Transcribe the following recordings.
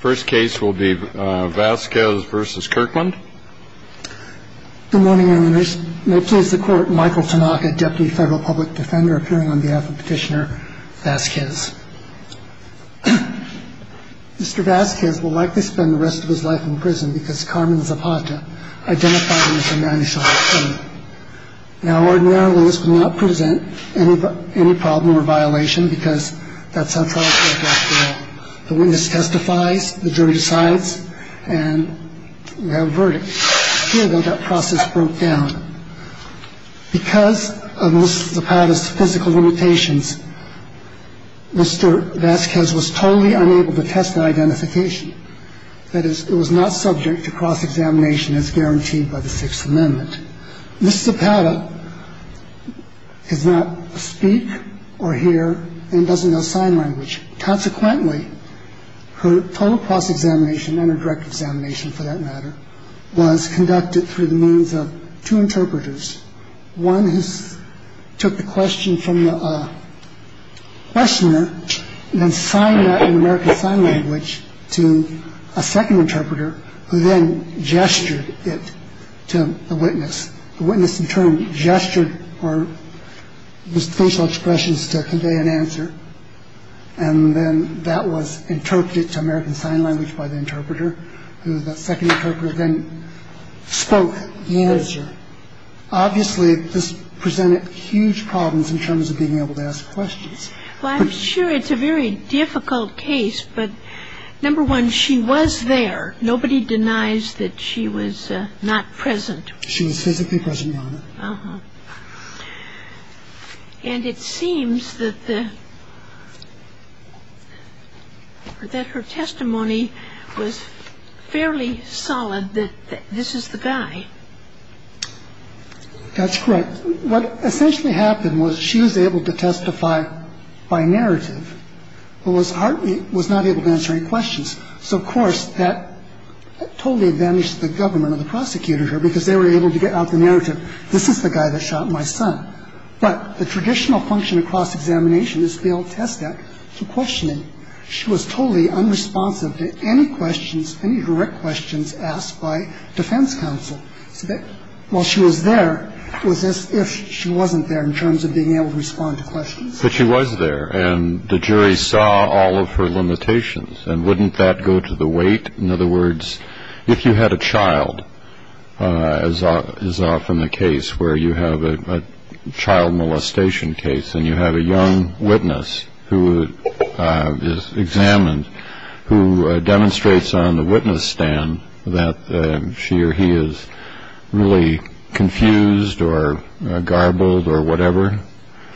Mr. Vasquez will likely spend the rest of his life in prison because Carmen Zapata identified him as a man who saw him coming. Now ordinarily this would not present any problem or violation because that's how trials work after all. The jury decides and we have a verdict. Here, though, that process broke down. Because of Ms. Zapata's physical limitations, Mr. Vasquez was totally unable to test that identification. That is, it was not subject to cross-examination as guaranteed by the Sixth Amendment. Ms. Zapata does not speak or hear and doesn't know sign language. Consequently, her total cross-examination and her direct examination, for that matter, was conducted through the means of two interpreters. One took the question from the questioner and then signed that in American Sign Language to a second interpreter who then gestured it to the witness. The witness in turn gestured or facial expressions to convey an answer. And then that was interpreted to American Sign Language by the interpreter. The second interpreter then spoke the answer. Obviously, this presented huge problems in terms of being able to ask questions. Well, I'm sure it's a very difficult case, but number one, she was there. Nobody denies that she was not present. She was physically present, Your Honor. And it seems that the ‑‑ that her testimony was fairly solid that this is the guy. That's correct. What essentially happened was she was able to testify by narrative, but was hardly ‑‑ was not able to answer any questions. So, of course, that totally advantaged the government or the prosecutor here because they were able to get out the narrative. This is the guy that shot my son. But the traditional function of cross‑examination is to be able to test that through questioning. She was totally unresponsive to any questions, any direct questions asked by defense counsel. So while she was there, it was as if she wasn't there in terms of being able to respond to questions. But she was there, and the jury saw all of her limitations. And wouldn't that go to the weight? In other words, if you had a child, as is often the case where you have a child molestation case, and you have a young witness who is examined, who demonstrates on the witness stand that she or he is really confused or garbled or whatever,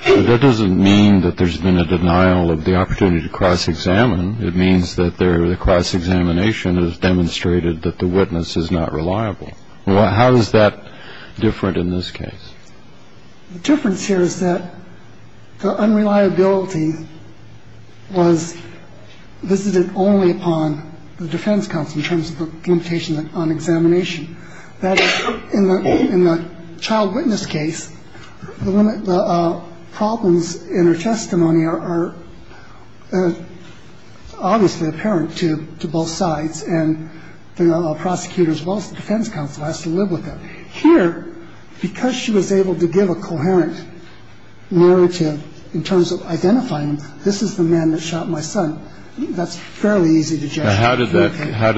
that doesn't mean that there's been a denial of the opportunity to cross‑examine. It means that their cross‑examination has demonstrated that the witness is not reliable. How is that different in this case? The difference here is that the unreliability was visited only upon the defense counsel in terms of the limitation on examination. That is, in the child witness case, the problems in her testimony are obviously apparent to both sides, and the prosecutor as well as the defense counsel has to live with them. Here, because she was able to give a coherent narrative in terms of identifying them, this is the man that shot my son, that's fairly easy to judge. How did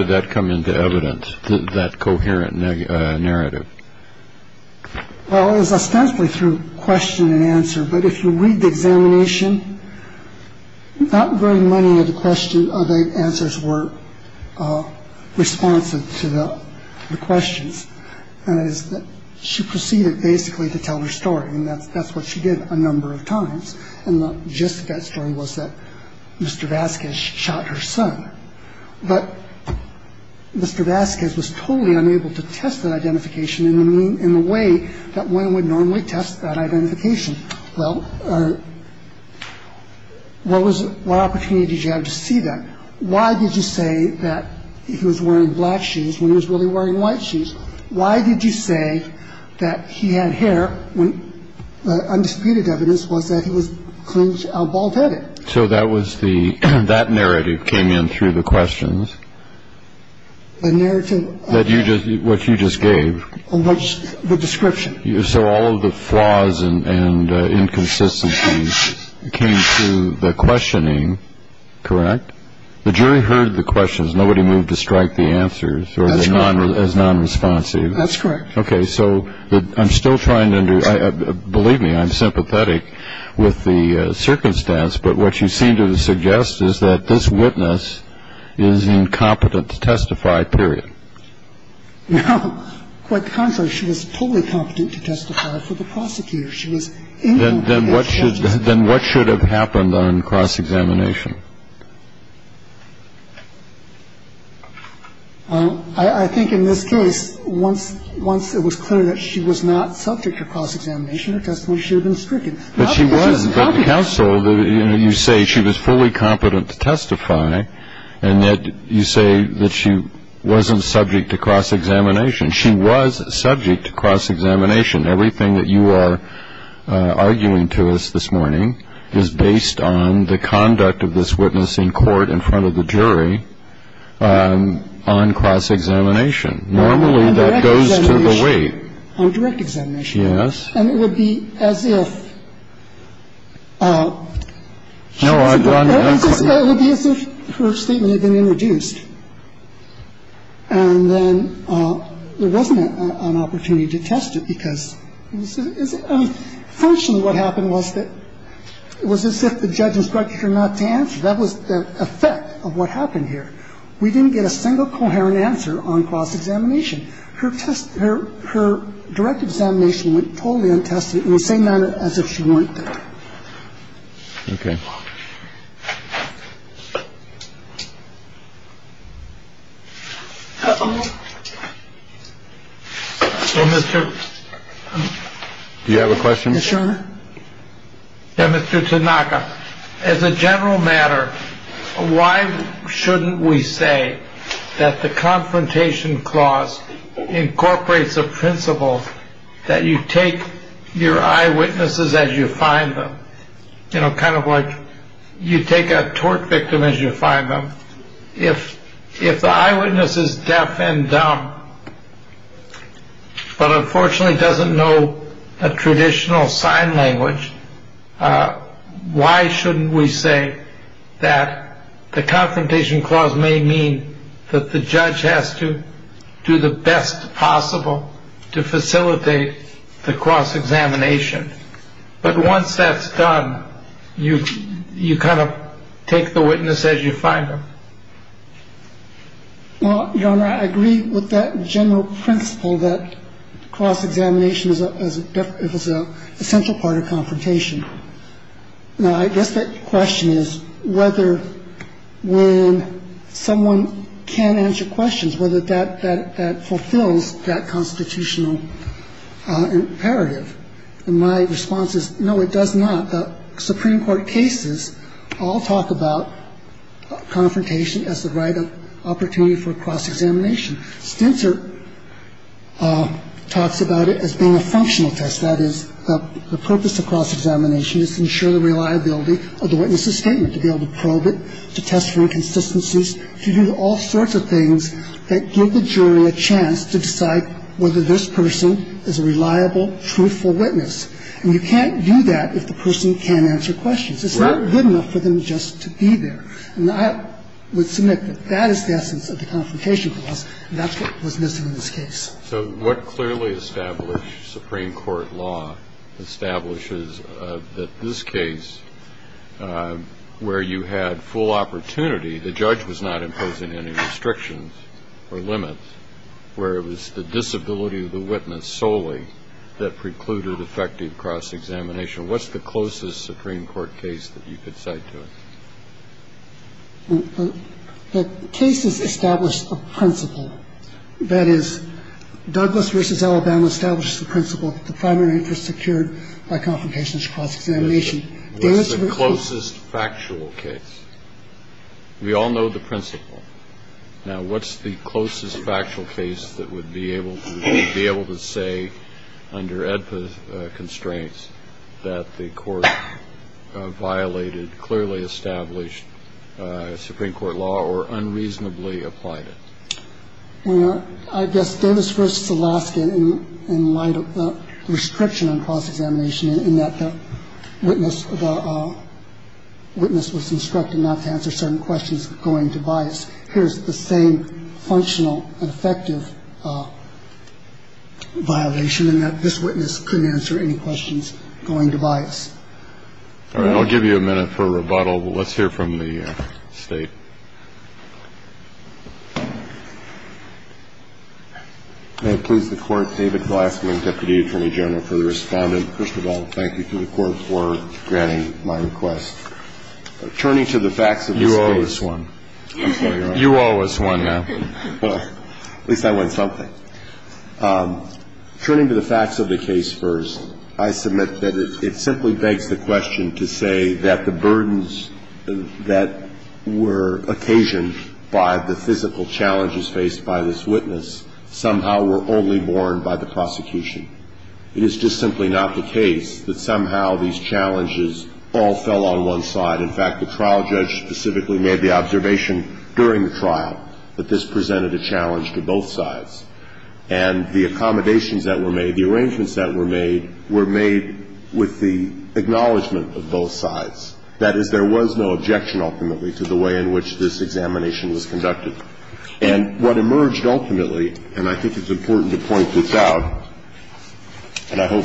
that come into evidence, that coherent narrative? Well, it was ostensibly through question and answer. But if you read the examination, not very many of the answers were responsive to the questions. She proceeded basically to tell her story, and that's what she did a number of times. And the gist of that story was that Mr. Vasquez shot her son. But Mr. Vasquez was totally unable to test that identification in the way that one would normally test that identification. Well, what opportunity did you have to see that? Why did you say that he was wearing black shoes when he was really wearing white shoes? Why did you say that he had hair when undisputed evidence was that he was a bald-headed? So that was the ñ that narrative came in through the questions. The narrative... That you just ñ what you just gave. The description. So all of the flaws and inconsistencies came through the questioning, correct? The jury heard the questions. Well, that's correct. That's correct. Okay. So I'm still trying to ñ believe me, I'm sympathetic with the circumstance. But what you seem to suggest is that this witness is incompetent to testify, period. No. Quite the contrary. She was incompetent to testify. Then what should have happened on cross-examination? I think in this case, once it was clear that she was not subject to cross-examination, her testimony should have been stricken. But she wasn't. But the counsel, you say she was fully competent to testify, and yet you say that she wasn't subject to cross-examination. She was subject to cross-examination. And everything that you are arguing to us this morning is based on the conduct of this witness in court, in front of the jury, on cross-examination. Normally that goes to the weight. On direct examination. Yes. And it would be as if... No, I've gone... It would be as if her statement had been introduced. And then there wasn't an opportunity to test it, because fortunately what happened was that it was as if the judge instructed her not to answer. That was the effect of what happened here. We didn't get a single coherent answer on cross-examination. Her direct examination went totally untested in the same manner as if she weren't there. Okay. Thank you. Do you have a question? Yes, Your Honor. Mr. Tanaka, as a general matter, why shouldn't we say that the confrontation clause incorporates a principle that you take your eyewitnesses as you find them? You know, kind of like you take a tort victim as you find them. If the eyewitness is deaf and dumb, but unfortunately doesn't know a traditional sign language, why shouldn't we say that the confrontation clause may mean that the judge has to do the best possible to facilitate the cross-examination? But once that's done, you kind of take the witness as you find them. Well, Your Honor, I agree with that general principle that cross-examination is an essential part of confrontation. Now, I guess the question is whether when someone can't answer questions, whether that fulfills that constitutional imperative. And my response is no, it does not. Supreme Court cases all talk about confrontation as the right opportunity for cross-examination. Stintzer talks about it as being a functional test. That is, the purpose of cross-examination is to ensure the reliability of the witness's statement, to be able to probe it, to test for inconsistencies, to do all sorts of things that give the jury a chance to decide whether this person is a reliable, truthful witness. And you can't do that if the person can't answer questions. It's not good enough for them just to be there. And I would submit that that is the essence of the confrontation clause, and that's what was missing in this case. So what clearly established Supreme Court law establishes that this case, where you had full opportunity, the judge was not imposing any restrictions or limits, where it was the disability of the witness solely that precluded effective cross-examination. What's the closest Supreme Court case that you could cite to it? The case has established a principle. That is, Douglas v. Alabama established the principle that the primary interest secured by confrontation is cross-examination. What's the closest factual case? We all know the principle. Now, what's the closest factual case that would be able to say, under AEDPA constraints, that the court violated clearly established Supreme Court law or unreasonably applied it? I guess Davis v. Alaska, in light of the restriction on cross-examination, in that the witness was instructed not to answer certain questions going to bias. Here's the same functional and effective violation, in that this witness couldn't answer any questions going to bias. All right, I'll give you a minute for rebuttal. Let's hear from the State. May it please the Court, David Glassman, Deputy Attorney General, for responding. First of all, thank you to the Court for granting my request. Turning to the facts of this case. You owe us one. I'm sorry, Your Honor. You owe us one now. Well, at least I won something. Turning to the facts of the case first, I submit that it simply begs the question to say that the burdens that were occasioned by the physical challenges faced by this witness somehow were only borne by the prosecution. It is just simply not the case that somehow these challenges all fell on one side. In fact, the trial judge specifically made the observation during the trial that this presented a challenge to both sides. And the accommodations that were made, the arrangements that were made, were made with the acknowledgment of both sides. That is, there was no objection ultimately to the way in which this examination was conducted. And what emerged ultimately, and I think it's important to point this out, and I hope,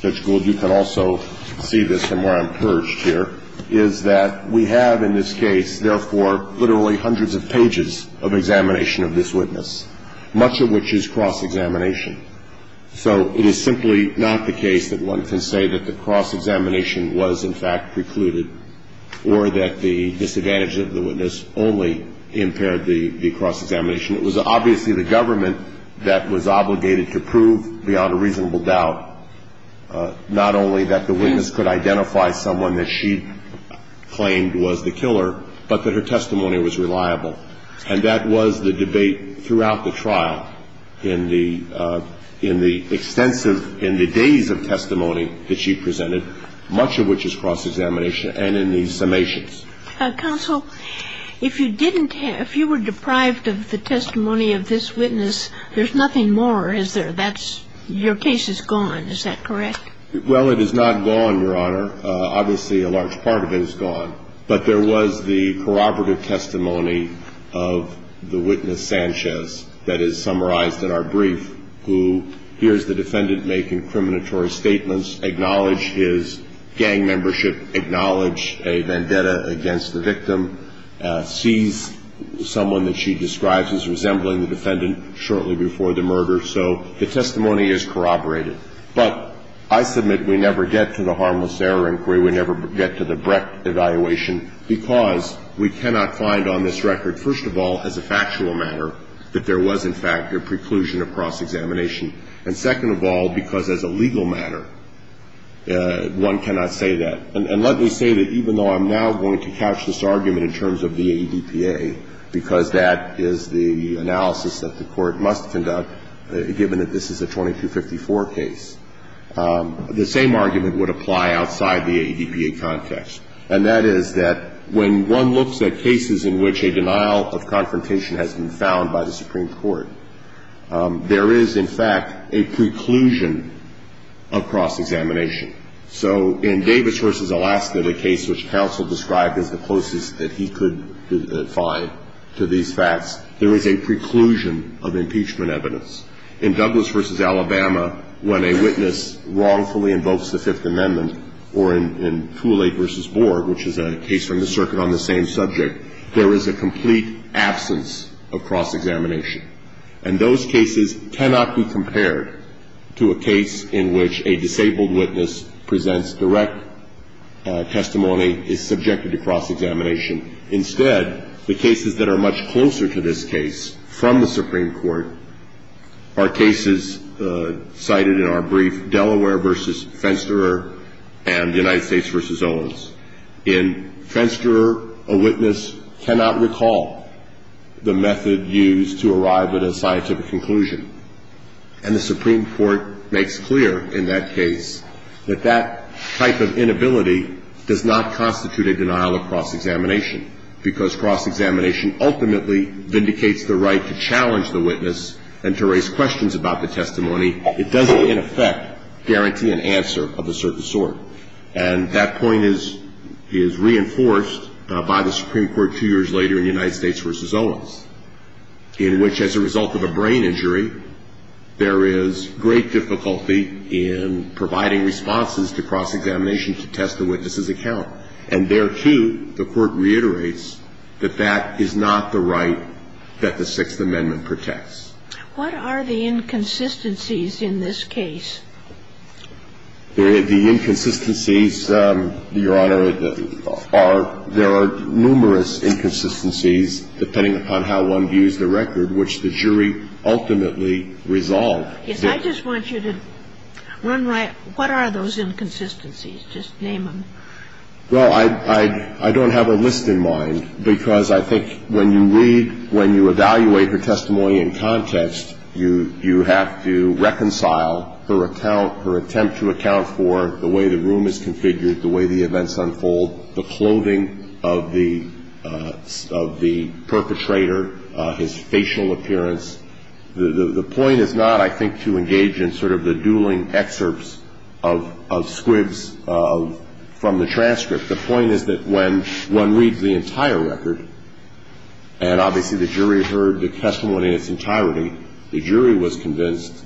Judge Gould, you can also see this and where I'm purged here, is that we have in this case, therefore, literally hundreds of pages of examination of this witness, much of which is cross-examination. So it is simply not the case that one can say that the cross-examination was, in fact, precluded, or that the disadvantage of the witness only impaired the cross-examination. It was obviously the government that was obligated to prove beyond a reasonable doubt not only that the witness could identify someone that she claimed was the killer, but that her testimony was reliable. And that was the debate throughout the trial in the extensive, in the days of We have in this case the evidence, much of which is cross-examination, and in these summations. Kagan. Counsel, if you didn't have, if you were deprived of the testimony of this witness, there's nothing more, is there? That's, your case is gone. Is that correct? Well, it is not gone, Your Honor. Obviously, a large part of it is gone. But there was the corroborative testimony of the witness, Sanchez, that is summarized in our brief, who hears the defendant make incriminatory statements, acknowledge his gang membership, acknowledge a vendetta against the victim, sees someone that she describes as resembling the defendant shortly before the murder. So the testimony is corroborated. But I submit we never get to the harmless error inquiry. We never get to the Brecht evaluation because we cannot find on this record, first of all, as a factual matter, that there was in fact a preclusion of cross-examination. And second of all, because as a legal matter, one cannot say that. And let me say that even though I'm now going to couch this argument in terms of the ADPA, because that is the analysis that the Court must conduct, given that this is a 2254 case, the same argument would apply outside the ADPA context. And that is that when one looks at cases in which a denial of confrontation has been found by the Supreme Court, there is in fact a preclusion of cross-examination. So in Davis v. Alaska, the case which counsel described as the closest that he could find to these facts, there is a preclusion of impeachment evidence. In Douglas v. Alabama, when a witness wrongfully invokes the Fifth Amendment, or in Thule v. Borg, which is a case from the circuit on the same subject, there is a complete absence of cross-examination. And those cases cannot be compared to a case in which a disabled witness presents direct testimony, is subjected to cross-examination. Instead, the cases that are much closer to this case from the Supreme Court, are cases cited in our brief, Delaware v. Fensterer and United States v. Owens. In Fensterer, a witness cannot recall the method used to arrive at a scientific conclusion. And the Supreme Court makes clear in that case that that type of inability does not constitute a denial of cross-examination, because cross-examination ultimately vindicates the right to challenge the witness and to raise questions about the testimony. It doesn't, in effect, guarantee an answer of a certain sort. And that point is reinforced by the Supreme Court two years later in United States v. Owens, in which as a result of a brain injury, there is great difficulty in providing responses to cross-examination to test the witness's account. And there, too, the Court reiterates that that is not the right that the Sixth Amendment protects. What are the inconsistencies in this case? The inconsistencies, Your Honor, are, there are numerous inconsistencies, depending upon how one views the record, which the jury ultimately resolved. I just want you to run by what are those inconsistencies. Just name them. Well, I don't have a list in mind, because I think when you read, when you evaluate her testimony in context, you have to reconcile her account, her attempt to account for the way the room is configured, the way the events unfold, the clothing of the perpetrator, his facial appearance. The point is not, I think, to engage in sort of the dueling excerpts of squibs from the transcript. The point is that when one reads the entire record, and obviously the jury heard the testimony in its entirety, the jury was convinced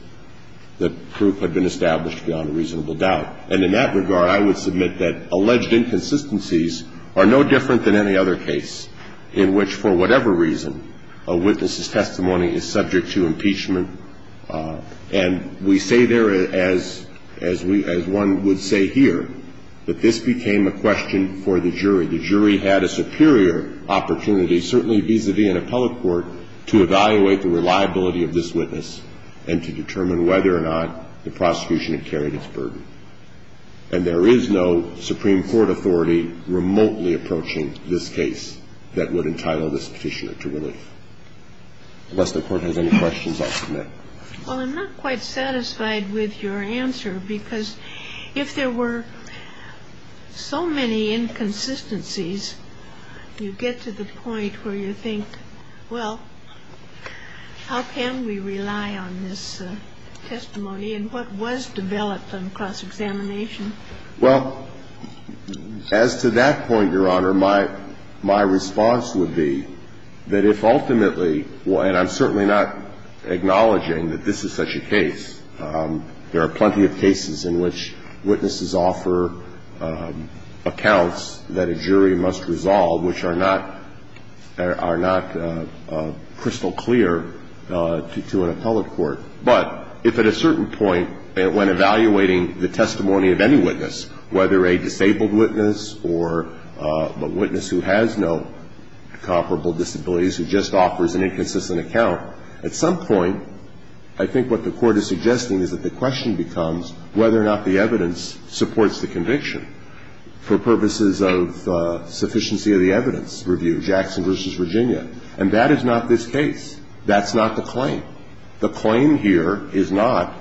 that proof had been established beyond a reasonable doubt. And in that regard, I would submit that alleged inconsistencies are no different than any other case in which, for whatever reason, a witness's testimony is subject to impeachment. And we say there, as one would say here, that this became a question for the jury. The jury had a superior opportunity, certainly vis-a-vis an appellate court, to evaluate the reliability of this witness and to determine whether or not the prosecution had carried its burden. And there is no Supreme Court authority remotely approaching this case that would entitle this officiant to relief. Unless the Court has any questions, I'll submit. Well, I'm not quite satisfied with your answer, because if there were so many inconsistencies, you get to the point where you think, well, how can we rely on this testimony and what was developed on cross-examination? Well, as to that point, Your Honor, my response would be that if ultimately – and I'm certainly not acknowledging that this is such a case. There are plenty of cases in which witnesses offer accounts that a jury must resolve which are not crystal clear to an appellate court. But if at a certain point, when evaluating the testimony of any witness, whether a disabled witness or a witness who has no comparable disabilities who just offers an inconsistent account, at some point, I think what the Court is suggesting is that the question becomes whether or not the evidence supports the conviction for purposes of sufficiency of the evidence review, Jackson v. Virginia. And that is not this case. That's not the claim. The claim here is not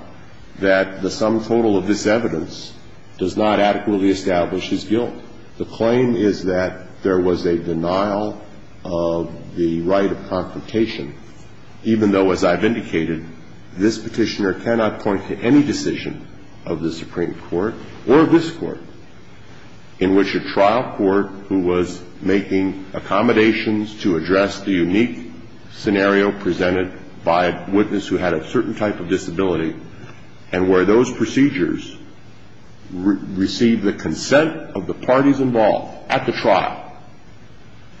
that the sum total of this evidence does not adequately establish his guilt. The claim is that there was a denial of the right of confrontation, even though, as I've indicated, this petitioner cannot point to any decision of the Supreme Court or this Court in which a trial court who was making accommodations to address the unique scenario presented by a witness who had a certain type of disability and where those procedures received the consent of the parties involved at the trial,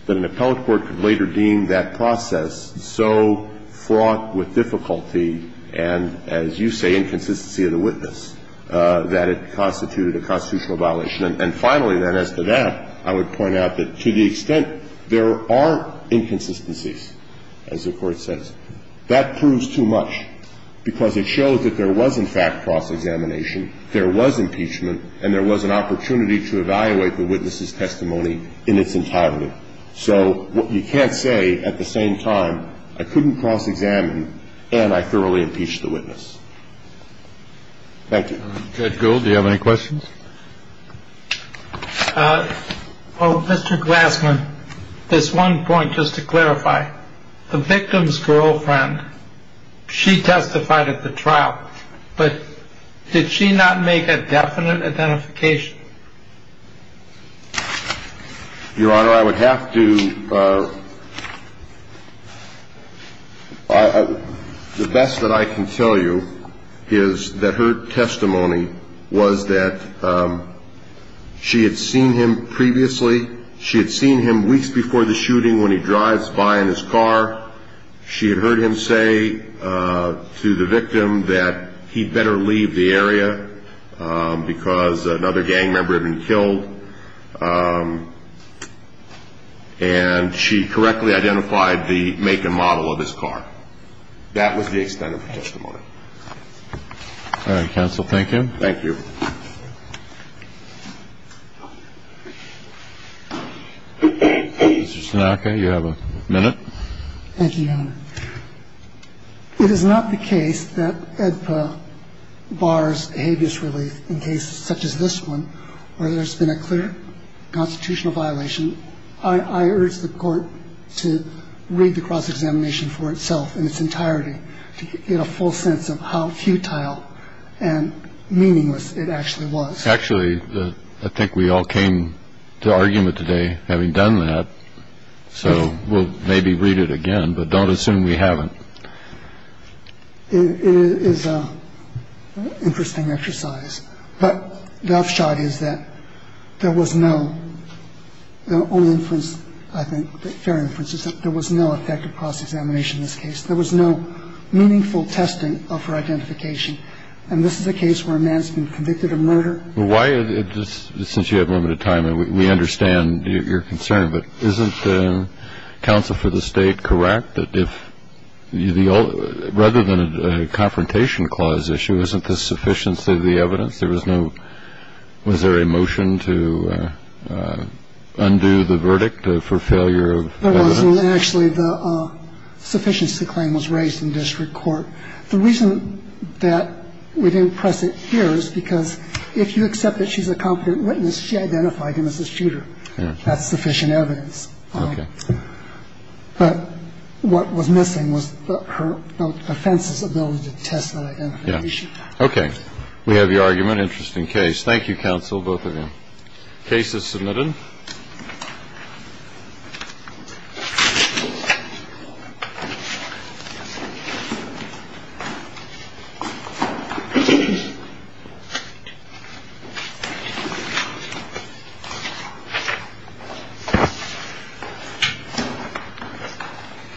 that an appellate court could later deem that process so fraught with difficulty and, as you say, inconsistency of the witness, that it constituted a constitutional violation. And that there was a denial of the right of confrontation. And finally, then, as to that, I would point out that to the extent there are inconsistencies, as the Court says, that proves too much because it shows that there was in fact cross-examination, there was impeachment, and there was an opportunity to evaluate the witness's testimony in its entitlement. So you can't say, at the same time, I couldn't cross-examine and I thoroughly impeach the witness. Thank you. Judge Gould, do you have any questions? Well, Mr. Glassman, this one point, just to clarify. The victim's girlfriend, she testified at the trial, but did she not make a definite identification? Your Honor, I would have to... The best that I can tell you is that her testimony was that she had seen him previously. She had seen him weeks before the shooting when he drives by in his car. She had heard him say to the victim that he'd better leave the area because another gang member had been killed. And she correctly identified the make and model of his car. That was the extent of her testimony. All right. Counsel, thank you. Thank you. Thank you, Your Honor. It is not the case that AEDPA bars behaviorist relief in cases such as this one, where there's been a clear constitutional violation. I urge the Court to read the cross-examination for itself in its entirety, to get a full sense of how futile and meaningless it actually was. Actually, I think we all came to argument today having done that, so we'll maybe read it again, but don't assume we haven't. It is an interesting exercise. But the upshot is that there was no only inference, I think, fair inference, is that there was no effective cross-examination in this case. There was no meaningful testing of her identification. And this is a case where a man's been convicted of murder. Well, why is this, since you have limited time, and we understand your concern, but isn't counsel for the State correct that if rather than a confrontation clause issue, isn't this sufficiency of the evidence? There was no ‑‑ was there a motion to undo the verdict for failure of evidence? There wasn't. Actually, the sufficiency claim was raised in district court. The reason that we didn't press it here is because if you accept that she's a competent witness, she identified him as a shooter. That's sufficient evidence. Okay. But what was missing was her defense's ability to test her identification. Okay. We have your argument. Interesting case. Thank you, counsel, both of you. Case is submitted.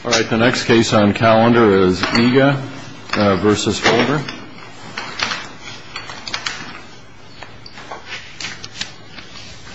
All right. The next case on calendar is Iga versus Folger.